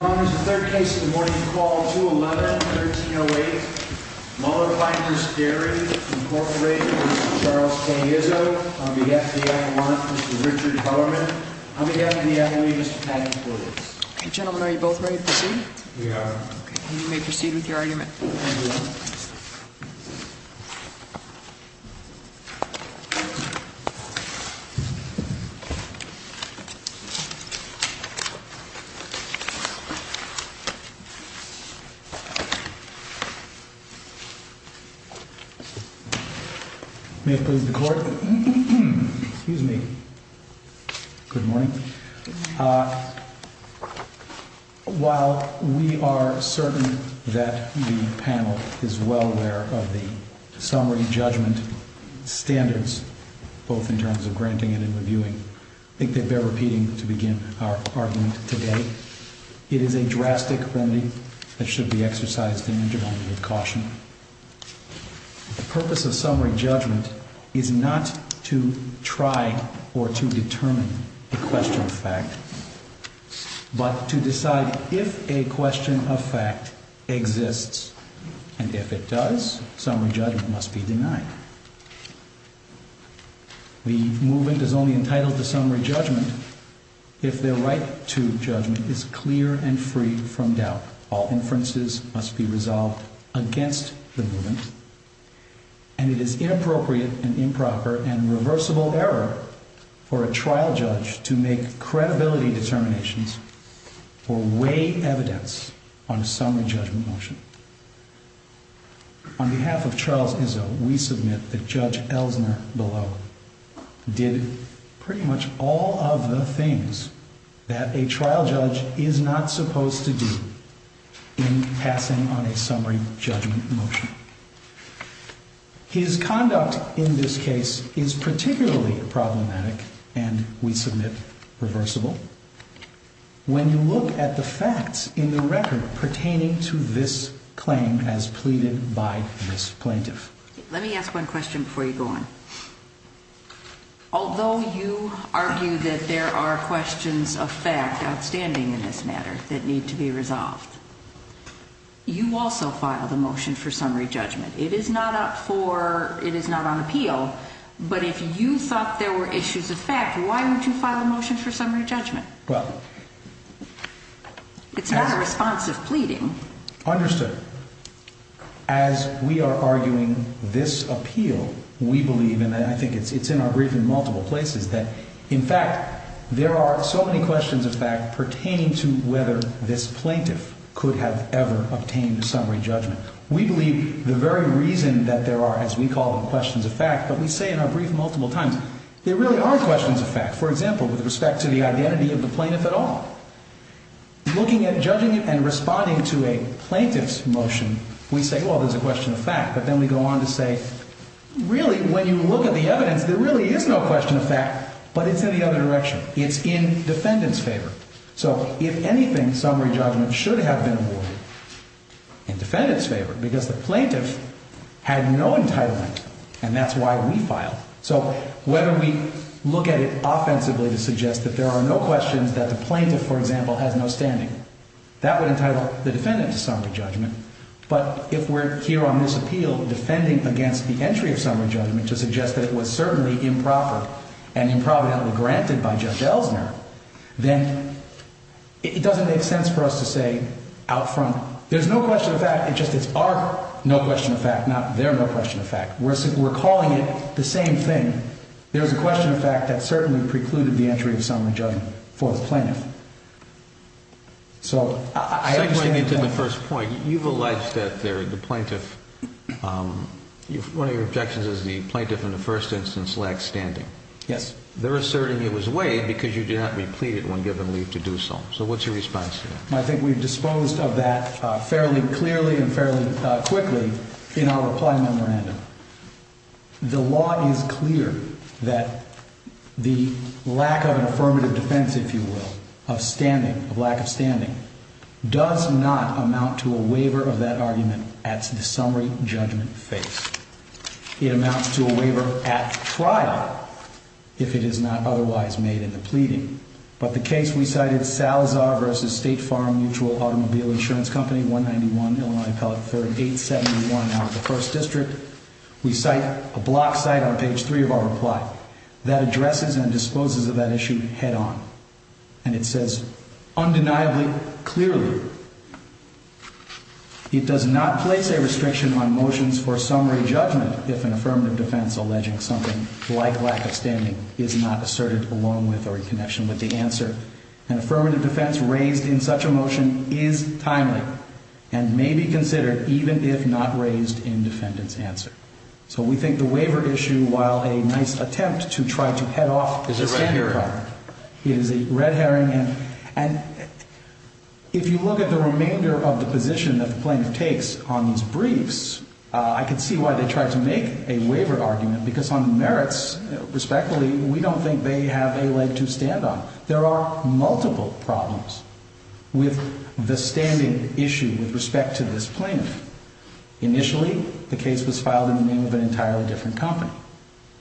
On behalf of the FDIC, I want Mr. Richard Hellerman. On behalf of the FDIC, Mr. Patrick Lewis. Gentlemen, are you both ready to proceed? We are. You may proceed with your argument. While we are certain that the panel is well aware of the summary judgment standards, both in terms of granting and in reviewing, I think they bear repeating to begin our argument today. It is a drastic remedy that should be exercised dangerously with caution. The purpose of summary judgment is not to try or to determine a question of fact, but to decide if a question of fact exists, and if it does, summary judgment must be denied. The movement is only entitled to summary judgment if their right to judgment is clear and free from doubt. All inferences must be resolved against the movement, and it is inappropriate and improper and reversible error for a trial judge to make credibility determinations or we submit that Judge Ellsner below did pretty much all of the things that a trial judge is not supposed to do in passing on a summary judgment motion. His conduct in this case is particularly problematic and, we submit, reversible when you look at the facts in the Let me ask one question before you go on. Although you argue that there are questions of fact outstanding in this matter that need to be resolved, you also filed a motion for summary judgment. It is not on appeal, but if you thought there were issues of fact, why wouldn't you file a motion for summary judgment? It's not a response of pleading. Understood. As we are arguing this appeal, we believe, and I think it's in our brief in multiple places, that, in fact, there are so many questions of fact pertaining to whether this plaintiff could have ever obtained a summary judgment. We believe the very reason that there are, as we call them, questions of fact, but we say in our brief multiple times, there really are questions of fact. For example, with respect to the identity of the plaintiff at all, looking at, judging it, and responding to a plaintiff's motion, we say, well, there's a question of fact, but then we go on to say, really, when you look at the evidence, there really is no question of fact, but it's in the other direction. It's in defendant's favor. So, if anything, summary judgment should have been awarded in defendant's favor, because the plaintiff had no entitlement, and that's why we filed. So, whether we look at it offensively to suggest that there are no questions, that the plaintiff, for example, has no standing, that would entitle the defendant to summary judgment, but if we're here on this appeal defending against the entry of summary judgment to suggest that it was certainly improper and improvidently granted by Judge Elsner, then it doesn't make sense for us to say out front, there's no question of fact, it's just our no question of fact, not their no question of fact. We're calling it the same thing. There's a question of fact that certainly precluded the entry of summary judgment for the plaintiff. So, I understand the point. Segueing into the first point, you've alleged that the plaintiff, one of your objections is the plaintiff in the first instance lacked standing. Yes. They're asserting it was waived because you did not be pleaded when given leave to do so. So, what's your response to that? I think we've disposed of that fairly clearly and fairly quickly in our reply memorandum. The law is clear that the lack of affirmative defense, if you will, of standing, of lack of standing, does not amount to a waiver of that argument at the summary judgment phase. It amounts to a waiver at trial, if it is not otherwise made in the pleading. But the case we cited, Salazar v. State Farm Mutual Automobile Insurance Company, 191 Illinois County, Appellate 3871 out of the 1st District, we cite a block site on page 3 of our reply that addresses and disposes of that issue head on. And it says, undeniably, clearly, it does not place a restriction on motions for summary judgment if an affirmative defense alleging something like lack of standing is not asserted along with or in connection with the answer. An affirmative defense raised in such a motion is timely and may be considered even if not raised in defendant's answer. So, we think the waiver issue, while a nice attempt to try to head off the standing problem, is a red herring. And if you look at the remainder of the position that the plaintiff takes on these briefs, I can see why they tried to make a waiver argument, because on merits, respectfully, we don't think they have a leg to stand on. There are multiple problems with the standing issue with respect to this plaintiff. Initially, the case was filed in the name of an entirely different company.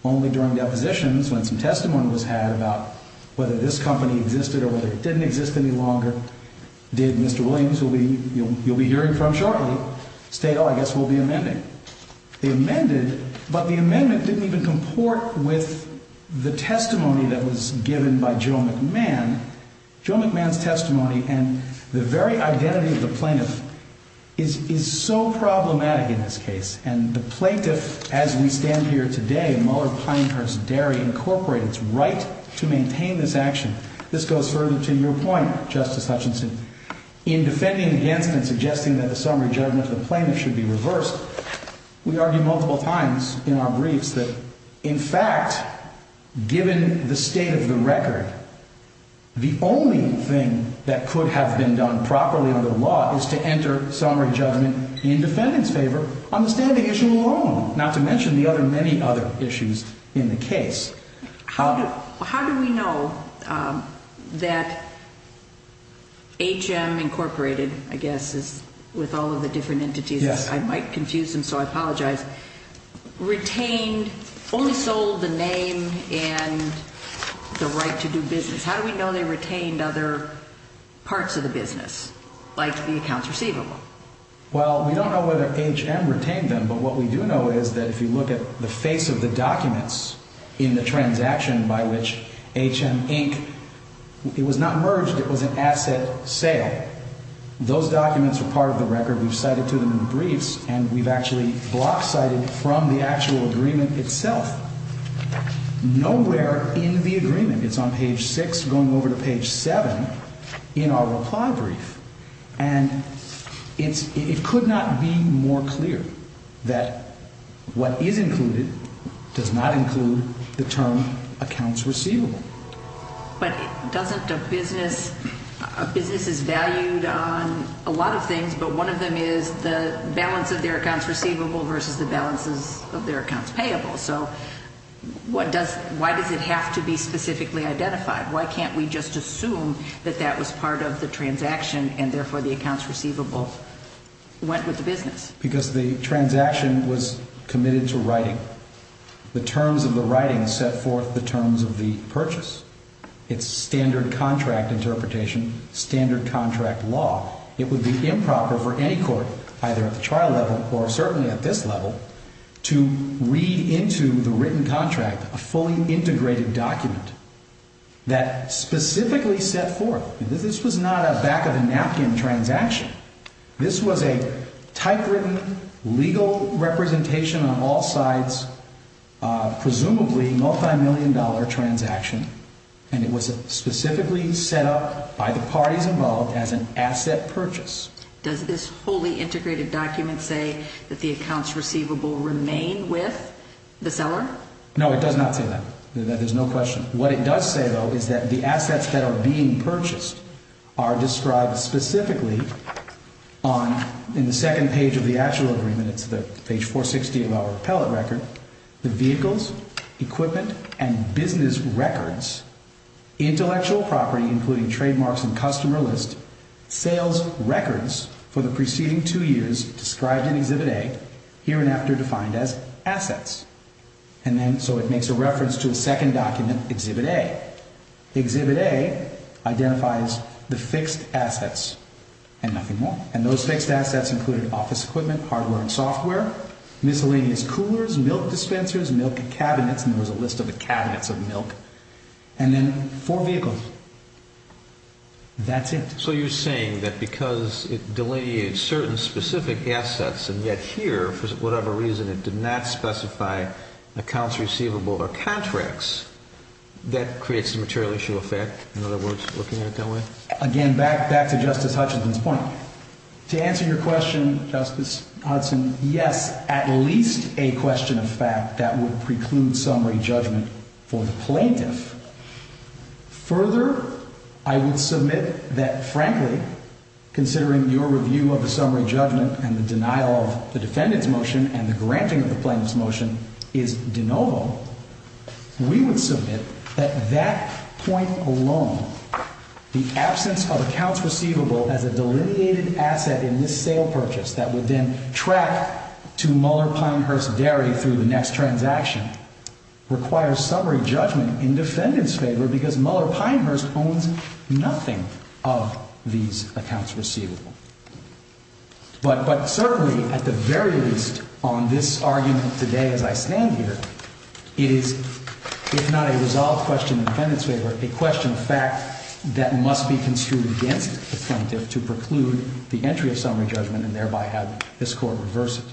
Only during depositions, when some testimony was had about whether this company existed or whether it didn't exist any longer, did Mr. Williams, who you'll be hearing from shortly, state, oh, I guess we'll be amending. They amended, but the amendment didn't even support with the testimony that was given by Joe McMahon. Joe McMahon's testimony and the very identity of the plaintiff is so problematic in this case. And the plaintiff, as we stand here today, Mueller-Pinehurst-Derry Incorporated's right to maintain this action. This goes further to your point, Justice Hutchinson. In defending against and suggesting that the summary judgment of the plaintiff should be reversed, we argue multiple times in our briefs that, in fact, given the state of the record, the only thing that could have been done properly under the law is to enter summary judgment in defendant's favor on the standing issue alone, not to mention the other many other issues in the case. How do we know that H.M. Incorporated, I guess, with all of the different entities, I might confuse them, so I apologize, retained, only sold the name and the right to do business. How do we know they retained other parts of the business, like the accounts receivable? Well, we don't know whether H.M. retained them, but what we do know is that if you look at the face of the documents in the transaction by which H.M. Inc., it was not merged, it was an asset sale. Those documents are part of the record. We've cited to them in the briefs, and we've actually block-cited from the actual agreement itself. Nowhere in the agreement, it's on page 6 going over to page 7 in our reply brief, and it could not be more clear that what is included does not include the term accounts receivable. But doesn't a business, a business is valued on a lot of things, but one of them is the balance of their accounts receivable versus the balances of their accounts payable. So why does it have to be specifically identified? Why can't we just assume that that was part of the transaction, and therefore the accounts receivable went with the business? Because the transaction was committed to writing. The terms of the writing set forth the terms of the purchase. It's standard contract interpretation, standard contract law. It would be improper for any court, either at the trial level or certainly at this level, to read into the This is not a back-of-the-napkin transaction. This was a typewritten, legal representation on all sides, presumably multimillion-dollar transaction, and it was specifically set up by the parties involved as an asset purchase. Does this fully integrated document say that the accounts receivable remain with the seller? No, it does not say that. There's no question. What it does say, though, is that the assets that are being purchased are described specifically in the second page of the actual agreement. It's page 460 of our appellate record. The vehicles, equipment, and business records, intellectual property, including trademarks and customer list, sales records for the preceding two years described in Exhibit A, here and after defined as assets. So it makes a reference to a second document, Exhibit A. Exhibit A identifies the fixed assets and nothing more. And those fixed assets included office equipment, hardware and software, miscellaneous coolers, milk dispensers, milk cabinets, and there was a list of the cabinets of milk, and then four vehicles. That's it. So you're saying that because it delineates certain specific assets and yet here, for whatever reason, it did not specify accounts receivable or contracts, that creates a material issue of fact? In other words, looking at it that way? Again, back to Justice Hutchinson's point. To answer your question, Justice Hudson, yes, at least a question of fact that would preclude summary judgment for the plaintiff. Further, I would submit that, frankly, considering your review of the summary judgment and the denial of the defendant's motion and the granting of the plaintiff's motion is de novo, we would submit that that point alone, the absence of accounts receivable as a delineated asset in this sale purchase that would then track to Muller Pinehurst Dairy through the next transaction, requires summary judgment in defendant's favor because Muller Pinehurst owns nothing of these accounts receivable. But certainly, at the very least, on this argument today as I stand here, it is, if not a resolved question in defendant's favor, a question of fact that must be construed against the plaintiff to preclude the entry of summary judgment and thereby have this Court reverse it.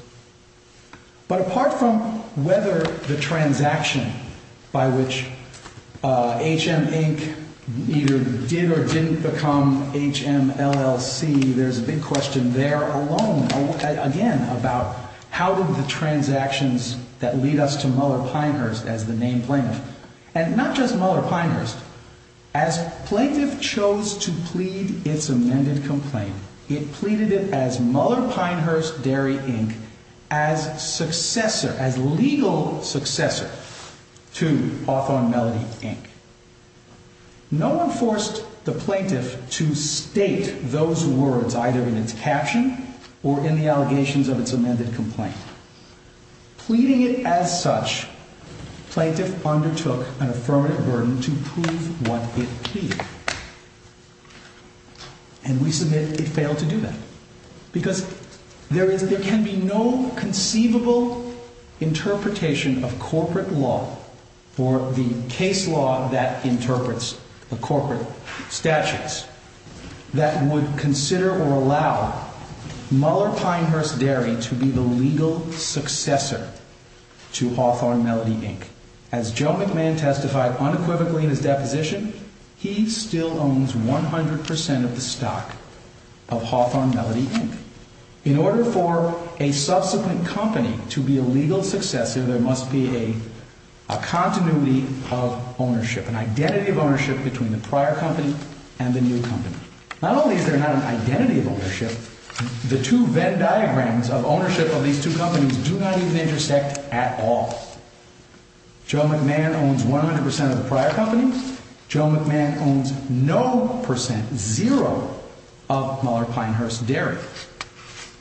But apart from whether the transaction by which HM Inc. either did or didn't become HMLLC, there's a big question there alone, again, about how did the transactions that lead us to Muller Pinehurst as the named plaintiff, and not just Muller Pinehurst, as plaintiff chose to plead its amended complaint, it pleaded it as Muller Pinehurst Dairy Inc. as successor, as legal successor to Hawthorne Melody Inc. No one forced the plaintiff to state those words either in its caption or in the allegations of its amended complaint. Pleading it as such, plaintiff undertook an affirmative burden to prove what it pleaded. And we submit it failed to do that. Because there can be no conceivable interpretation of corporate law or the case law that interprets the corporate statutes that would consider or allow Muller Pinehurst Dairy to be the legal successor to Hawthorne Melody Inc. As Joe McMahon testified unequivocally in his deposition, he still owns 100% of the stock of Hawthorne Melody Inc. In order for a subsequent company to be a legal successor, there must be a continuity of ownership, an identity of ownership between the prior company and the new company. Not only is there not an identity of ownership, the two Venn diagrams of ownership of these two companies do not even intersect at all. Joe McMahon owns 100% of the prior company. Joe McMahon owns no percent, zero, of Muller Pinehurst Dairy.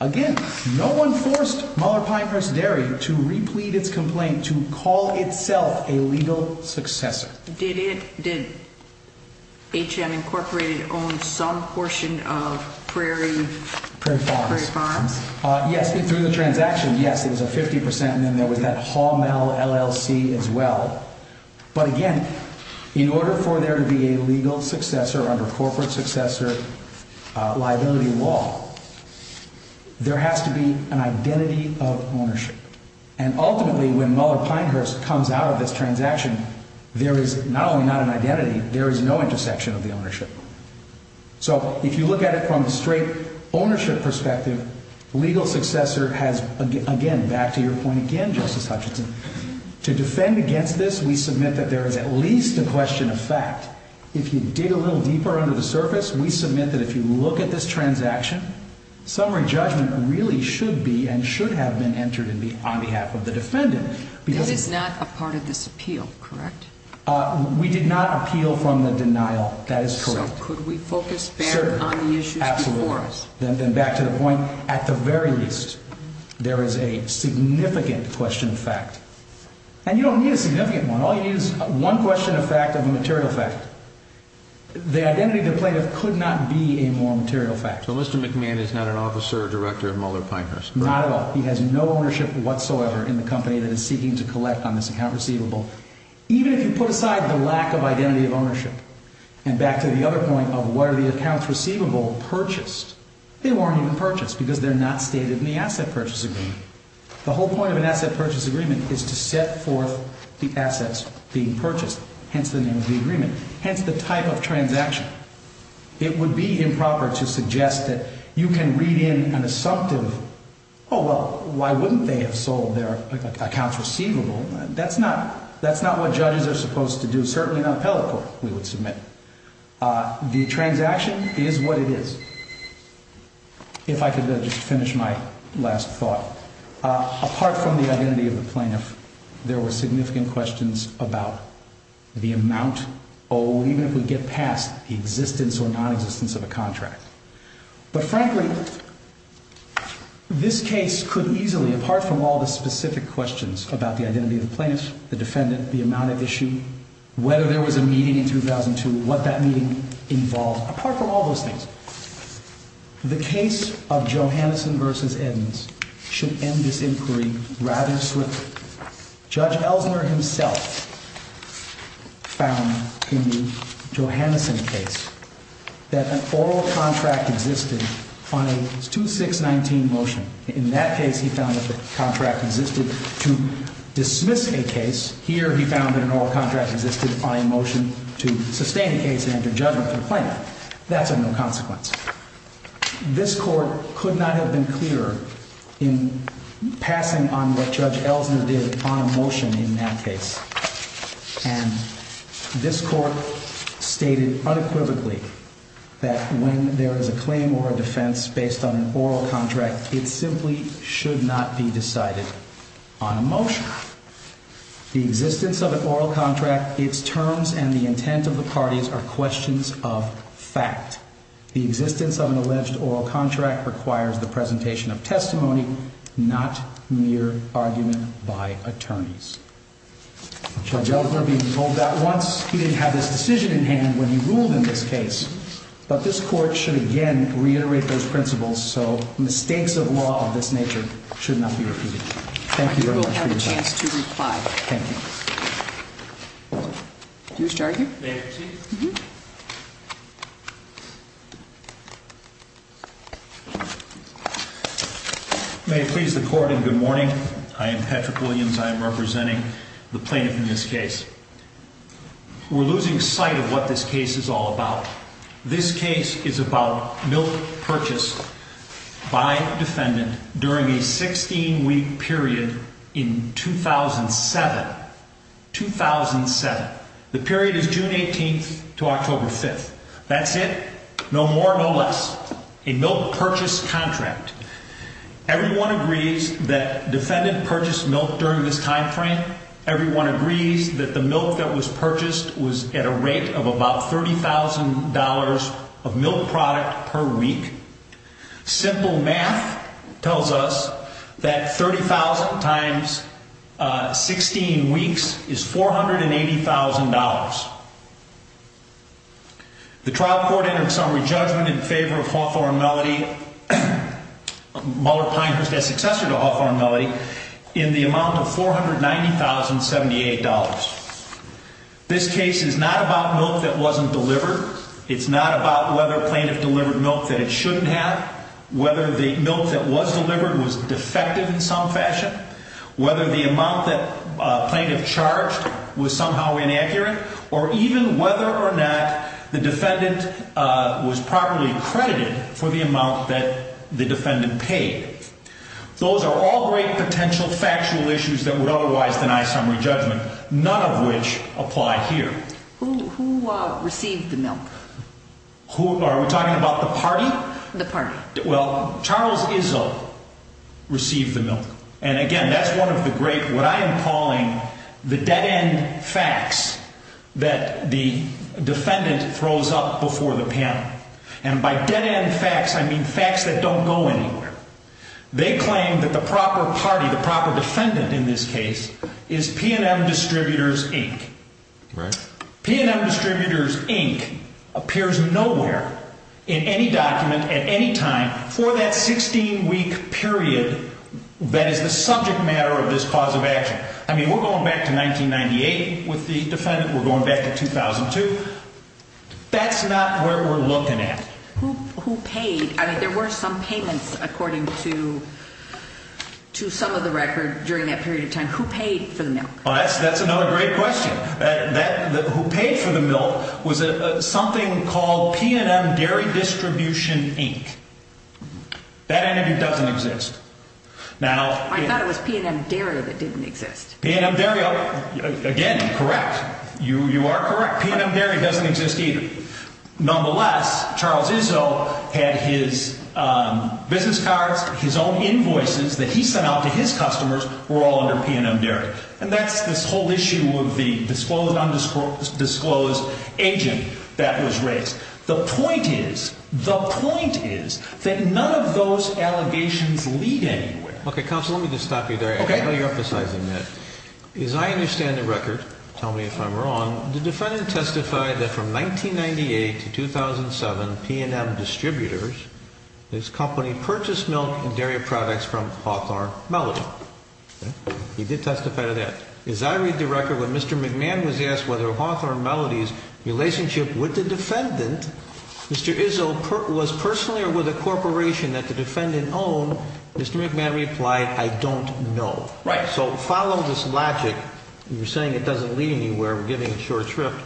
Again, no one forced Muller Pinehurst Dairy to replete its complaint to call itself a legal successor. Did HM Incorporated own some portion of Prairie Farms? Yes, through the transaction, yes, there was a 50% and then there was that Hall Mel LLC as well. But again, in order for there to be a legal successor under corporate successor liability law, there has to be an identity of ownership. And ultimately, when Muller Pinehurst comes out of this transaction, there is not only not an identity, there is no intersection of the ownership. So, if you look at it from the straight ownership perspective, legal successor has, again, back to your point again, Justice Hutchinson, to defend against this, we submit that there is at least a question of fact. If you dig a little deeper under the surface, we submit that if you look at this transaction, summary judgment really should be and should have been entered on behalf of the defendant. This is not a part of this appeal, correct? We did not appeal from the denial, that is correct. So, could we focus back on the issues before us? Absolutely. Then back to the point, at the very least, there is a significant question of fact. And you don't need a significant one. All you need is one question of fact of a material fact. The identity of the plaintiff could not be a more material fact. So, Mr. McMahon is not an officer or director of Muller Pinehurst, correct? Not at all. He has no ownership whatsoever in the company that is seeking to collect on this account receivable. Even if you put aside the lack of identity of ownership, and back to the other point of were the accounts receivable purchased, they weren't even purchased because they're not stated in the asset purchase agreement. The whole point of an asset purchase agreement is to set forth the assets being purchased, hence the name of the agreement, hence the type of transaction. It would be improper to suggest that you can read in an assumptive, oh, well, why wouldn't they have sold their accounts receivable? That's not what judges are supposed to do, certainly not appellate court, we would submit. The transaction is what it is. If I could just finish my last thought. Apart from the identity of the plaintiff, there were significant questions about the amount, oh, even if we get past the existence or non-existence of a contract. But frankly, this case could easily, apart from all the specific questions about the identity of the plaintiff, the defendant, the amount at issue, whether there was a meeting in 2002, what that meeting involved, apart from all those things, the case of Johannesson v. Edmonds should end this inquiry rather swiftly. Judge Ellsner himself found in the Johannesson case that an oral contract existed on a 2-6-19 motion. In that case, he found that the contract existed to dismiss a case. Here he found that an oral contract existed on a motion to sustain a case and enter judgment for the plaintiff. That's of no consequence. This court could not have been clearer in passing on what Judge Ellsner did on a motion in that case. And this court stated unequivocally that when there is a claim or a defense based on an oral contract, the existence of an oral contract, its terms and the intent of the parties are questions of fact. The existence of an alleged oral contract requires the presentation of testimony, not mere argument by attorneys. Judge Ellsner being told that once, he didn't have this decision in hand when he ruled in this case. But this court should again reiterate those principles, so mistakes of law of this nature should not be repeated. Thank you very much for your time. I think we'll have a chance to reply. Thank you. Do you wish to argue? May I proceed? Mm-hmm. May it please the court, and good morning. I am Patrick Williams. I am representing the plaintiff in this case. We're losing sight of what this case is all about. This case is about milk purchased by defendant during a 16-week period in 2007. 2007. The period is June 18th to October 5th. That's it. No more, no less. A milk purchase contract. Everyone agrees that defendant purchased milk during this time frame. Everyone agrees that the milk that was purchased was at a rate of about $30,000 of milk product per week. Simple math tells us that 30,000 times 16 weeks is $480,000. The trial court entered some re-judgment in favor of Hawthorne Melody, Muller Pinehurst's successor to Hawthorne Melody, in the amount of $490,078. This case is not about milk that wasn't delivered. It's not about whether plaintiff delivered milk that it shouldn't have, whether the milk that was delivered was defective in some fashion, whether the amount that plaintiff charged was somehow inaccurate, or even whether or not the defendant was properly credited for the amount that the defendant paid. Those are all great potential factual issues that would otherwise deny summary judgment, none of which apply here. Who received the milk? Are we talking about the party? The party. Well, Charles Izzo received the milk. And again, that's one of the great, what I am calling, the dead-end facts that the defendant throws up before the panel. And by dead-end facts, I mean facts that don't go anywhere. They claim that the proper party, the proper defendant in this case, is P&M Distributors, Inc. P&M Distributors, Inc. appears nowhere in any document at any time for that 16-week period that is the subject matter of this cause of action. I mean, we're going back to 1998 with the defendant. We're going back to 2002. That's not where we're looking at. Who paid? I mean, there were some payments according to some of the record during that period of time. Who paid for the milk? That's another great question. Who paid for the milk was something called P&M Dairy Distribution, Inc. That entity doesn't exist. I thought it was P&M Dairy that didn't exist. P&M Dairy, again, correct. You are correct. P&M Dairy doesn't exist either. Nonetheless, Charles Izzo had his business cards, his own invoices that he sent out to his customers were all under P&M Dairy. And that's this whole issue of the disclosed, undisclosed agent that was raised. The point is, the point is that none of those allegations lead anywhere. Okay, counsel, let me just stop you there. Okay. I know you're emphasizing that. As I understand the record, tell me if I'm wrong, the defendant testified that from 1998 to 2007, P&M Distributors, this company, purchased milk and dairy products from Hawthorne Melody. He did testify to that. As I read the record, when Mr. McMahon was asked whether Hawthorne Melody's relationship with the defendant, Mr. Izzo, was personally or with a corporation that the defendant owned, Mr. McMahon replied, I don't know. Right. So follow this logic. You're saying it doesn't lead anywhere. We're giving a short shrift.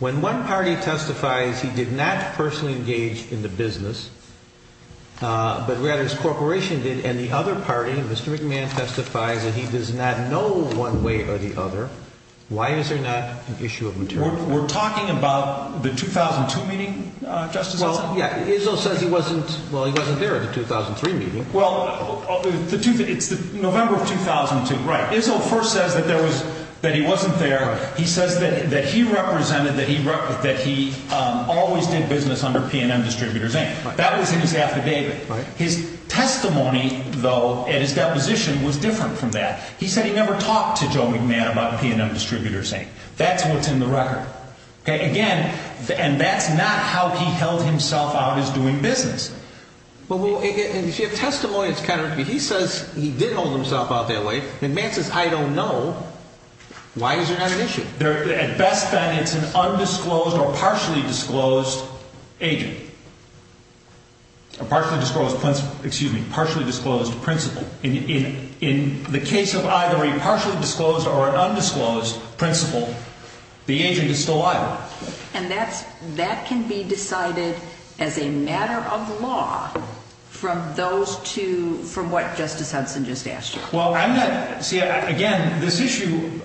When one party testifies he did not personally engage in the business, but rather his corporation did, and the other party, Mr. McMahon, testifies that he does not know one way or the other, why is there not an issue of materiality? We're talking about the 2002 meeting, Justice Edson? Well, yeah. Izzo says he wasn't, well, he wasn't there at the 2003 meeting. Well, it's November of 2002. Right. Izzo first says that he wasn't there. He says that he represented, that he always did business under P&M Distributors, Inc. That was in his affidavit. His testimony, though, in his deposition was different from that. He said he never talked to Joe McMahon about P&M Distributors, Inc. That's what's in the record. Again, and that's not how he held himself out as doing business. Well, if you have testimony, it's kind of, he says he did hold himself out that way. McMahon says, I don't know. Why is there not an issue? At best, then, it's an undisclosed or partially disclosed agent. A partially disclosed, excuse me, partially disclosed principal. In the case of either a partially disclosed or an undisclosed principal, the agent is still alive. And that can be decided as a matter of law from those two, from what Justice Hudson just asked you. Well, see, again, this issue,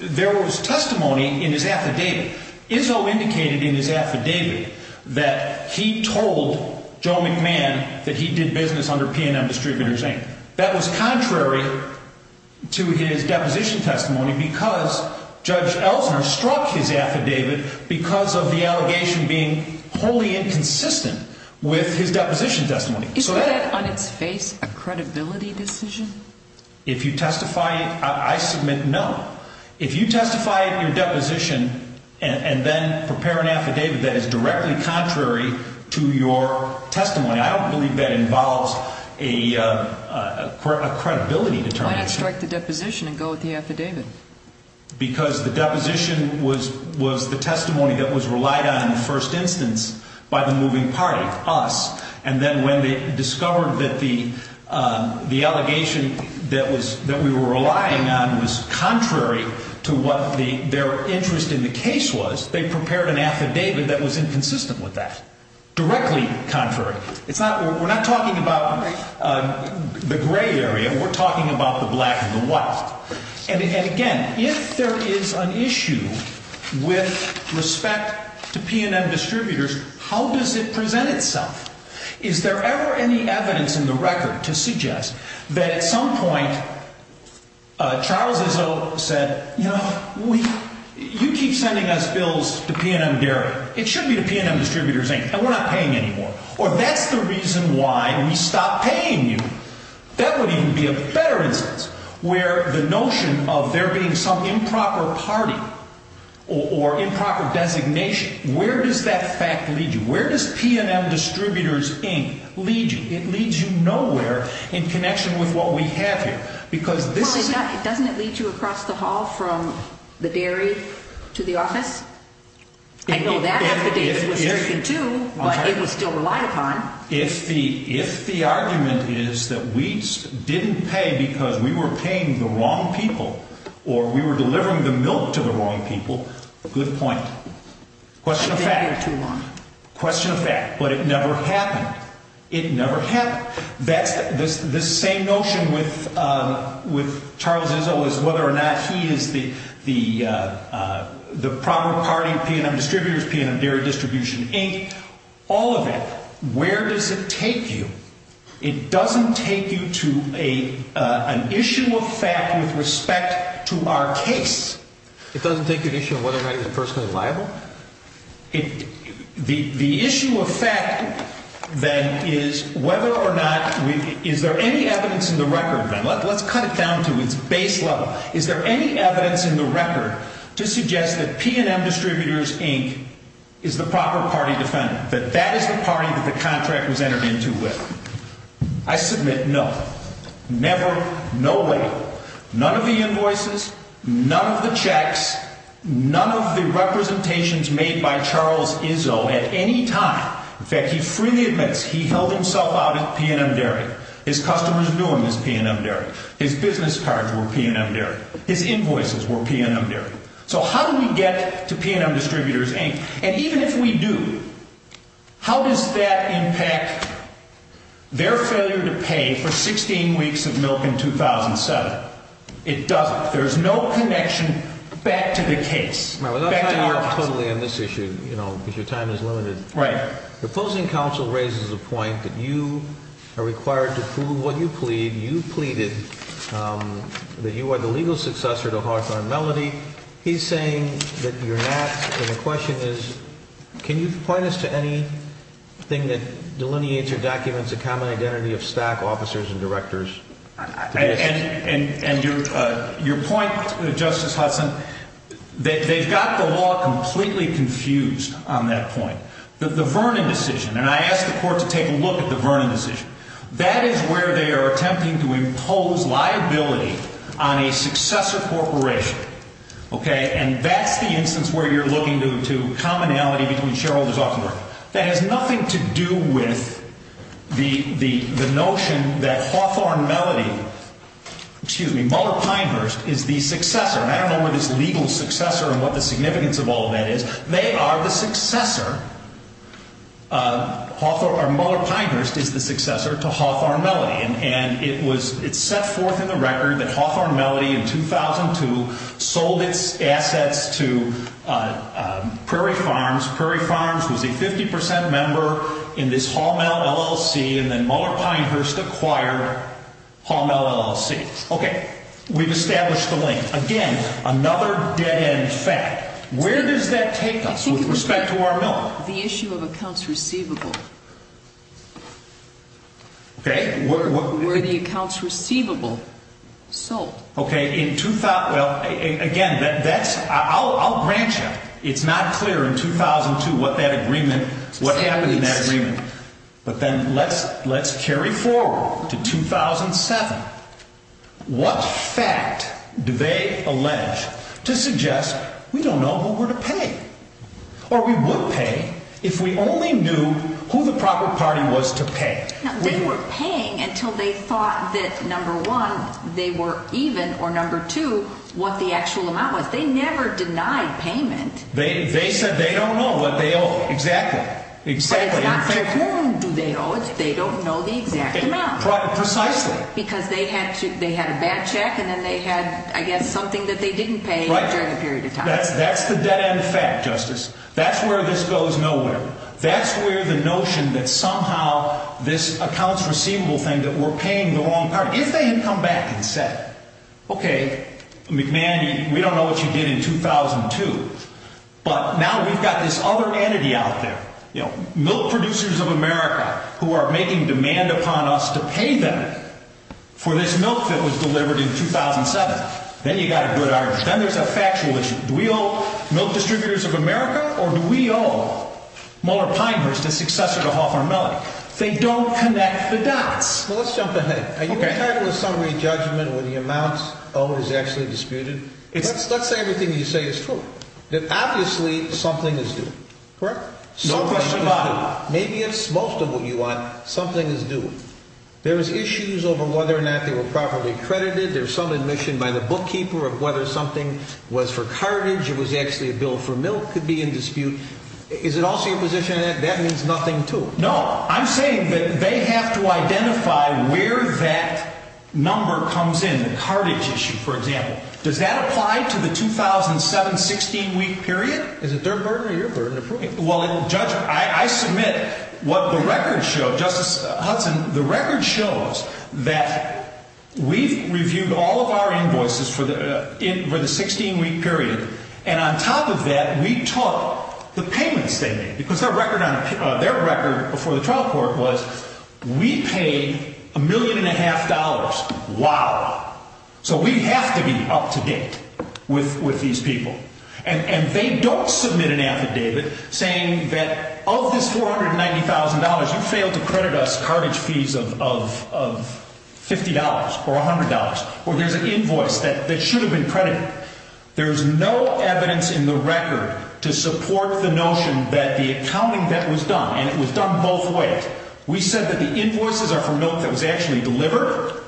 there was testimony in his affidavit. Izzo indicated in his affidavit that he told Joe McMahon that he did business under P&M Distributors, Inc. That was contrary to his deposition testimony because Judge Ellsner struck his affidavit because of the allegation being wholly inconsistent with his deposition testimony. Is that on its face a credibility decision? If you testify, I submit no. If you testify in your deposition and then prepare an affidavit that is directly contrary to your testimony, I don't believe that involves a credibility determination. Why not strike the deposition and go with the affidavit? Because the deposition was the testimony that was relied on in the first instance by the moving party, us. And then when they discovered that the allegation that we were relying on was contrary to what their interest in the case was, they prepared an affidavit that was inconsistent with that, directly contrary. We're not talking about the gray area. We're talking about the black and the white. And again, if there is an issue with respect to P&M Distributors, how does it present itself? Is there ever any evidence in the record to suggest that at some point Charles Izzo said, you know, you keep sending us bills to P&M Dairy. It should be to P&M Distributors Inc., and we're not paying anymore. Or that's the reason why we stopped paying you. That would even be a better instance where the notion of there being some improper party or improper designation, where does that fact lead you? Where does P&M Distributors Inc. lead you? It leads you nowhere in connection with what we have here. Well, doesn't it lead you across the hall from the dairy to the office? I know that affidavit was taken, too, but it was still relied upon. If the argument is that we didn't pay because we were paying the wrong people or we were delivering the milk to the wrong people, good point. Question of fact. It didn't go too long. Question of fact. But it never happened. It never happened. The same notion with Charles Izzo is whether or not he is the proper party, P&M Distributors, P&M Dairy Distribution Inc., all of it, where does it take you? It doesn't take you to an issue of fact with respect to our case. It doesn't take you to an issue of whether or not he was personally liable? The issue of fact, then, is whether or not we – is there any evidence in the record, then? Let's cut it down to its base level. Is there any evidence in the record to suggest that P&M Distributors Inc. is the proper party defendant, that that is the party that the contract was entered into with? I submit no. Never, no way. None of the invoices, none of the checks, none of the representations made by Charles Izzo at any time. In fact, he freely admits he held himself out at P&M Dairy. His customers knew him as P&M Dairy. His business cards were P&M Dairy. His invoices were P&M Dairy. So how do we get to P&M Distributors Inc.? And even if we do, how does that impact their failure to pay for 16 weeks of milk in 2007? It doesn't. There's no connection back to the case, back to our case. Well, that's how you're totally on this issue, you know, because your time is limited. Right. The opposing counsel raises a point that you are required to prove what you plead. You pleaded that you are the legal successor to Hartharm Melody. He's saying that you're not. And the question is, can you point us to anything that delineates or documents a common identity of stack officers and directors? And your point, Justice Hudson, they've got the law completely confused on that point. The Vernon decision, and I asked the court to take a look at the Vernon decision. That is where they are attempting to impose liability on a successor corporation. OK. And that's the instance where you're looking to commonality between shareholders often work. That has nothing to do with the notion that Hartharm Melody, excuse me, Muller Pinehurst is the successor. And I don't know where this legal successor and what the significance of all of that is. They are the successor, or Muller Pinehurst is the successor to Hartharm Melody. And it was set forth in the record that Hartharm Melody in 2002 sold its assets to Prairie Farms. Prairie Farms was a 50 percent member in this Hallmell LLC, and then Muller Pinehurst acquired Hallmell LLC. OK. We've established the link. Again, another dead end fact. Where does that take us with respect to R. Miller? The issue of accounts receivable. OK. Were the accounts receivable sold? OK. Well, again, I'll grant you it's not clear in 2002 what that agreement, what happened in that agreement. But then let's carry forward to 2007. What fact do they allege to suggest we don't know who we're to pay? Or we would pay if we only knew who the proper party was to pay. They were paying until they thought that, number one, they were even, or number two, what the actual amount was. They never denied payment. They said they don't know what they owe. Exactly. Exactly. It's not how long do they owe. They don't know the exact amount. Precisely. Because they had a bad check and then they had, I guess, something that they didn't pay during a period of time. Right. That's the dead end fact, Justice. That's where this goes nowhere. That's where the notion that somehow this accounts receivable thing, that we're paying the wrong party. If they had come back and said, OK, McMahon, we don't know what you did in 2002. But now we've got this other entity out there. Milk producers of America who are making demand upon us to pay them for this milk that was delivered in 2007. Then you've got a good argument. Then there's a factual issue. Do we owe milk distributors of America or do we owe Mueller-Pinehurst, the successor to Hoffer & Mellon? They don't connect the dots. Well, let's jump ahead. OK. Are you entitled to summary judgment when the amount owed is actually disputed? Let's say everything you say is true. That obviously something is due. Correct? No question about it. Maybe it's most of what you want. Something is due. There's issues over whether or not they were properly credited. There's some admission by the bookkeeper of whether something was for cartage. It was actually a bill for milk could be in dispute. Is it also your position that that means nothing, too? No. I'm saying that they have to identify where that number comes in, the cartage issue, for example. Does that apply to the 2007 16-week period? Is it their burden or your burden to prove it? Well, Judge, I submit what the records show. Justice Hudson, the record shows that we've reviewed all of our invoices for the 16-week period. And on top of that, we took the payments they made. Because their record before the trial court was we paid a million and a half dollars. Wow. So we have to be up to date with these people. And they don't submit an affidavit saying that of this $490,000, you failed to credit us cartage fees of $50 or $100. Or there's an invoice that should have been credited. There's no evidence in the record to support the notion that the accounting that was done, and it was done both ways. We said that the invoices are for milk that was actually delivered.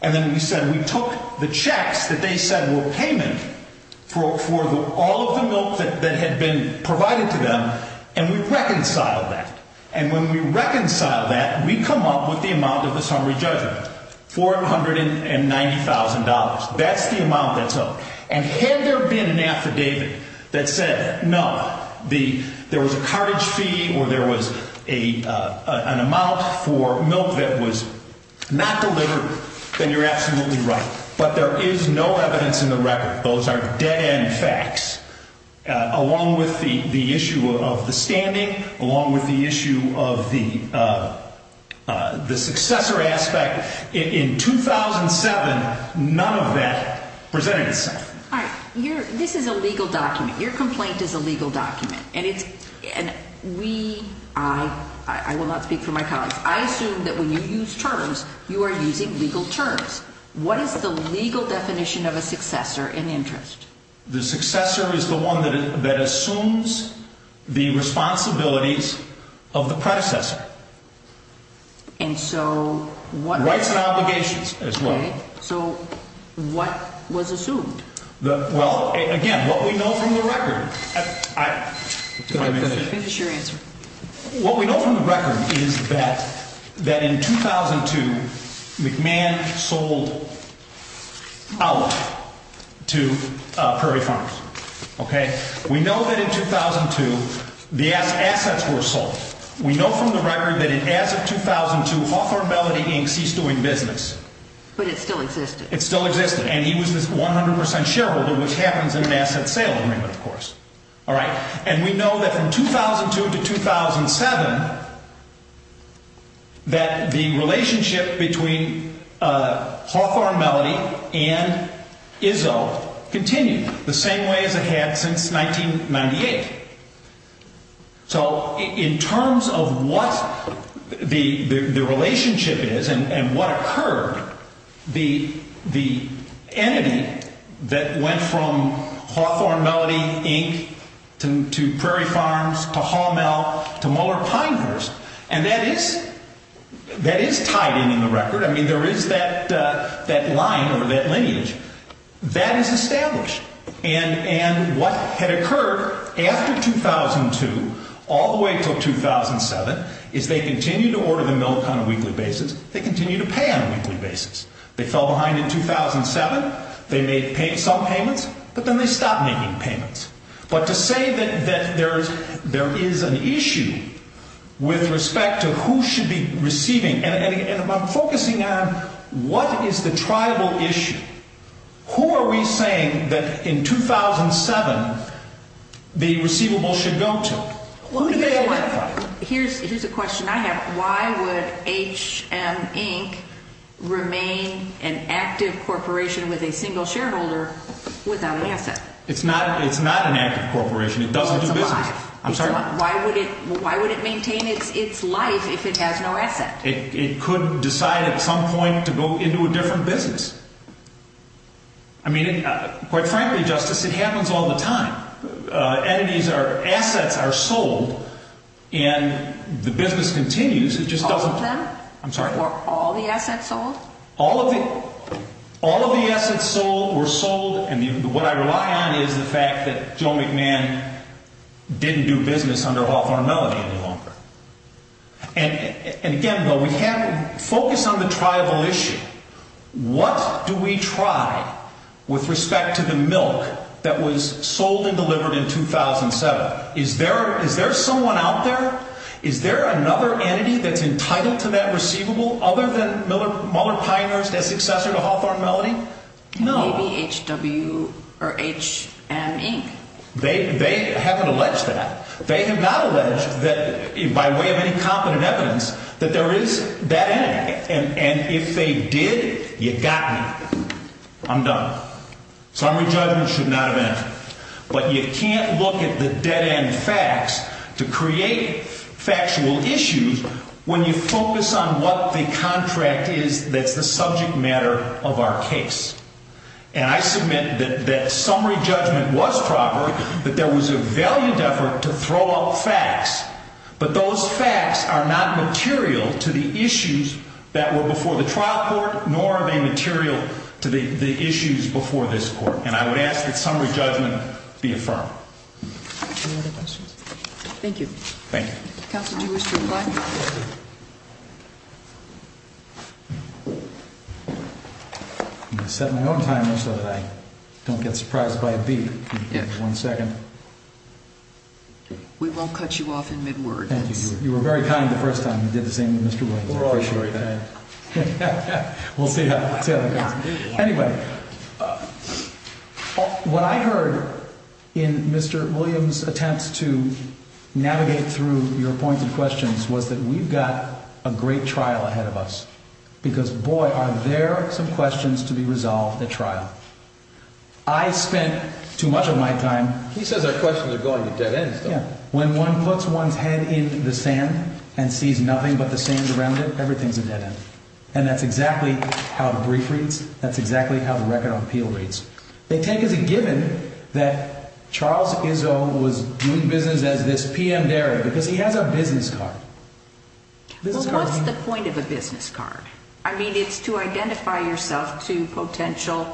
And then we said we took the checks that they said were payment for all of the milk that had been provided to them. And we reconciled that. And when we reconcile that, we come up with the amount of the summary judgment, $490,000. That's the amount that's owed. And had there been an affidavit that said, no, there was a cartage fee or there was an amount for milk that was not delivered, then you're absolutely right. But there is no evidence in the record. Those are dead-end facts. Along with the issue of the standing, along with the issue of the successor aspect, in 2007, none of that presented itself. All right. This is a legal document. Your complaint is a legal document. And we, I, I will not speak for my colleagues. I assume that when you use terms, you are using legal terms. What is the legal definition of a successor in interest? The successor is the one that assumes the responsibilities of the predecessor. And so what? Rights and obligations as well. Okay. So what was assumed? Well, again, what we know from the record. Finish your answer. What we know from the record is that, that in 2002, McMahon sold out to Prairie Farms. Okay. We know that in 2002, the assets were sold. We know from the record that as of 2002, Hawthorne Melody Inc. ceased doing business. But it still existed. It still existed. And he was this 100 percent shareholder, which happens in an asset sale agreement, of course. All right. And we know that from 2002 to 2007, that the relationship between Hawthorne Melody and Izzo continued the same way as it had since 1998. So in terms of what the relationship is and what occurred, the entity that went from Hawthorne Melody Inc. to Prairie Farms to Haumel to Muller Pinehurst, and that is tied in in the record. I mean, there is that line or that lineage. That is established. And what had occurred after 2002 all the way until 2007 is they continued to order the milk on a weekly basis. They continued to pay on a weekly basis. They fell behind in 2007. They made some payments. But then they stopped making payments. But to say that there is an issue with respect to who should be receiving, and I'm focusing on what is the tribal issue. Who are we saying that in 2007 the receivable should go to? Who do they identify? Here's a question I have. Why would HM Inc. remain an active corporation with a single shareholder without an asset? It's not an active corporation. It doesn't do business. It's alive. I'm sorry? Why would it maintain its life if it has no asset? It could decide at some point to go into a different business. I mean, quite frankly, Justice, it happens all the time. Assets are sold, and the business continues. All of them? I'm sorry? All the assets sold? All of the assets sold were sold. And what I rely on is the fact that Joe McMahon didn't do business under Hawthorne Melody any longer. And again, though, we have to focus on the tribal issue. What do we try with respect to the milk that was sold and delivered in 2007? Is there someone out there? Is there another entity that's entitled to that receivable other than Mueller Pioneers as successor to Hawthorne Melody? No. Maybe HW or HM Inc. They haven't alleged that. They have not alleged that by way of any competent evidence that there is that entity. And if they did, you got me. I'm done. Summary judgment should not have entered. But you can't look at the dead-end facts to create factual issues when you focus on what the contract is that's the subject matter of our case. And I submit that that summary judgment was proper, that there was a valued effort to throw out facts. But those facts are not material to the issues that were before the trial court, nor are they material to the issues before this court. And I would ask that summary judgment be affirmed. Any other questions? Thank you. Thank you. Counsel, do you wish to reply? No. I'm going to set my own timer so that I don't get surprised by a beep. One second. We won't cut you off in mid-word. Thank you. You were very kind the first time. You did the same with Mr. Williams. Appreciate that. We'll see how that goes. Anyway, what I heard in Mr. Williams' attempts to navigate through your points and questions was that we've got a great trial ahead of us. Because, boy, are there some questions to be resolved at trial. I spent too much of my time... He says our questions are going to dead-ends, though. Yeah. When one puts one's head in the sand and sees nothing but the sand around it, everything's a dead-end. And that's exactly how the brief reads. That's exactly how the record on appeal reads. They take as a given that Charles Izzo was doing business as this PM dairy because he has a business card. Well, what's the point of a business card? I mean, it's to identify yourself to potential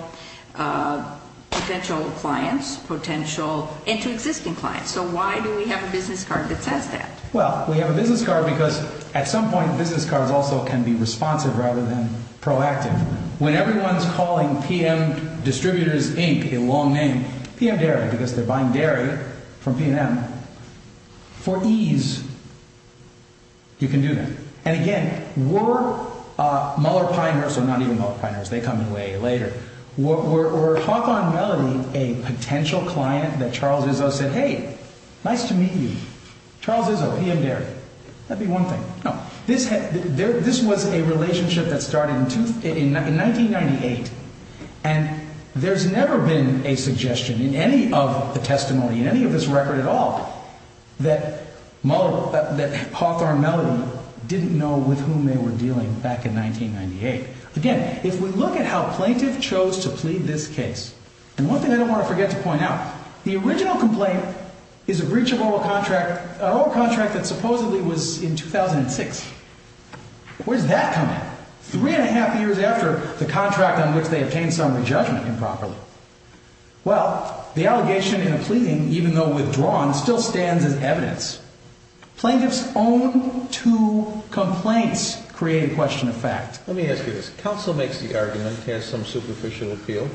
clients, potential inter-existing clients. So why do we have a business card that says that? Well, we have a business card because, at some point, business cards also can be responsive rather than proactive. When everyone's calling PM Distributors Inc. a long name, PM Dairy, because they're buying dairy from PM, for ease, you can do that. And, again, we're Muller-Piners, or not even Muller-Piners. They come in way later. Were Hawthorne and Melody a potential client that Charles Izzo said, hey, nice to meet you? Charles Izzo, PM Dairy. That'd be one thing. No. This was a relationship that started in 1998, and there's never been a suggestion in any of the testimony, in any of this record at all, that Hawthorne and Melody didn't know with whom they were dealing back in 1998. Again, if we look at how plaintiff chose to plead this case, and one thing I don't want to forget to point out, the original complaint is a breach of oral contract that supposedly was in 2006. Where's that come in? Three and a half years after the contract on which they obtained summary judgment improperly. Well, the allegation in a pleading, even though withdrawn, still stands as evidence. Plaintiff's own two complaints create a question of fact. Let me ask you this. Counsel makes the argument, has some superficial appeal.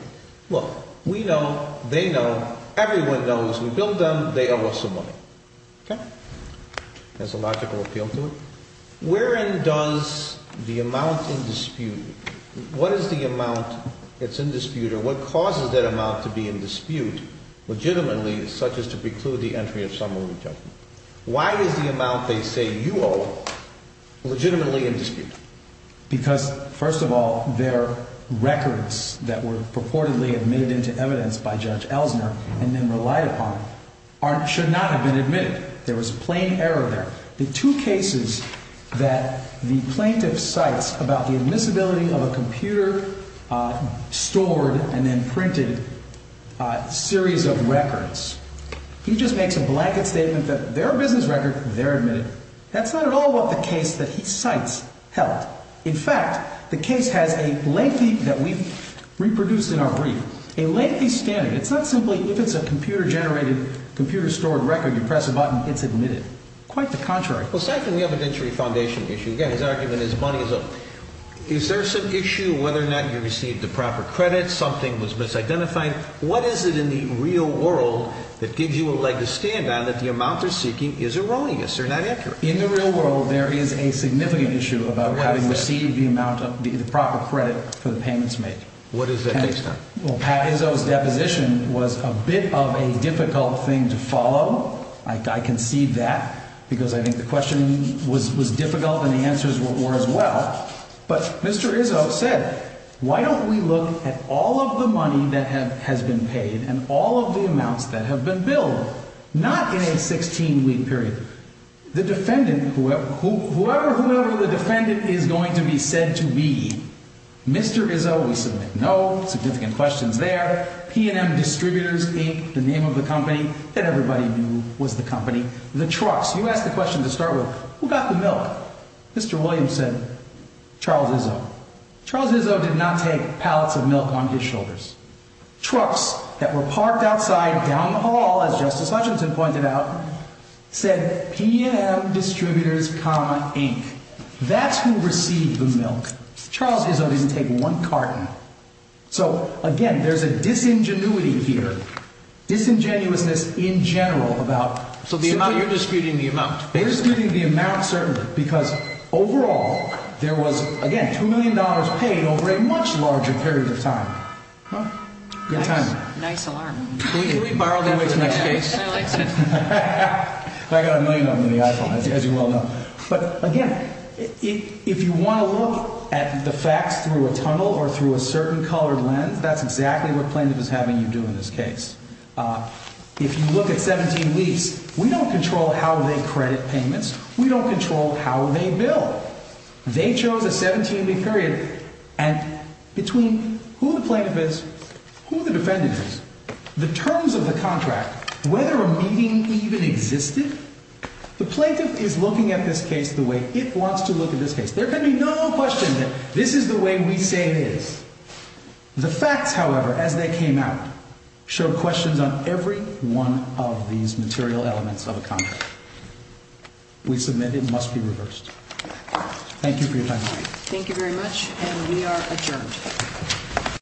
Look, we know, they know, everyone knows, we billed them, they owe us some money. Okay? Has a logical appeal to it. Wherein does the amount in dispute, what is the amount that's in dispute, or what causes that amount to be in dispute legitimately, such as to preclude the entry of summary judgment? Why is the amount they say you owe legitimately in dispute? Because, first of all, their records that were purportedly admitted into evidence by Judge Elsner and then relied upon should not have been admitted. There was a plain error there. The two cases that the plaintiff cites about the admissibility of a computer-stored and then printed series of records, he just makes a blanket statement that they're a business record, they're admitted. That's not at all what the case that he cites held. In fact, the case has a lengthy, that we've reproduced in our brief, a lengthy standard. It's not simply, if it's a computer-generated, computer-stored record, you press a button, it's admitted. Quite the contrary. Well, second, we have an entry foundation issue. Again, his argument is money is owed. Is there some issue whether or not you received the proper credit, something was misidentified? What is it in the real world that gives you a leg to stand on that the amount they're seeking is erroneous? They're not accurate. In the real world, there is a significant issue about whether you received the proper credit for the payments made. What is that based on? Pat Izzo's deposition was a bit of a difficult thing to follow. I concede that because I think the question was difficult and the answers were as well. But Mr. Izzo said, why don't we look at all of the money that has been paid and all of the amounts that have been billed, not in a 16-week period. The defendant, whoever the defendant is going to be said to be, Mr. Izzo, we submit no. Significant questions there. P&M Distributors Inc., the name of the company that everybody knew was the company. The trucks, you ask the question to start with, who got the milk? Mr. Williams said Charles Izzo. Charles Izzo did not take pallets of milk on his shoulders. Trucks that were parked outside down the hall, as Justice Hutchinson pointed out, said P&M Distributors, Inc. That's who received the milk. Charles Izzo didn't take one carton. So, again, there's a disingenuity here, disingenuousness in general about So you're disputing the amount? Disputing the amount, certainly, because, overall, there was, again, $2 million paid over a much larger period of time. Good timing. Nice alarm. Can we borrow that for the next case? I got a million on me, as you well know. But, again, if you want to look at the facts through a tunnel or through a certain colored lens, that's exactly what plaintiff is having you do in this case. If you look at 17 weeks, we don't control how they credit payments. We don't control how they bill. They chose a 17-week period. And between who the plaintiff is, who the defendant is, the terms of the contract, whether a meeting even existed, the plaintiff is looking at this case the way it wants to look at this case. There can be no question that this is the way we say it is. The facts, however, as they came out, show questions on every one of these material elements of a contract. We submit it must be reversed. Thank you for your time. Thank you very much, and we are adjourned.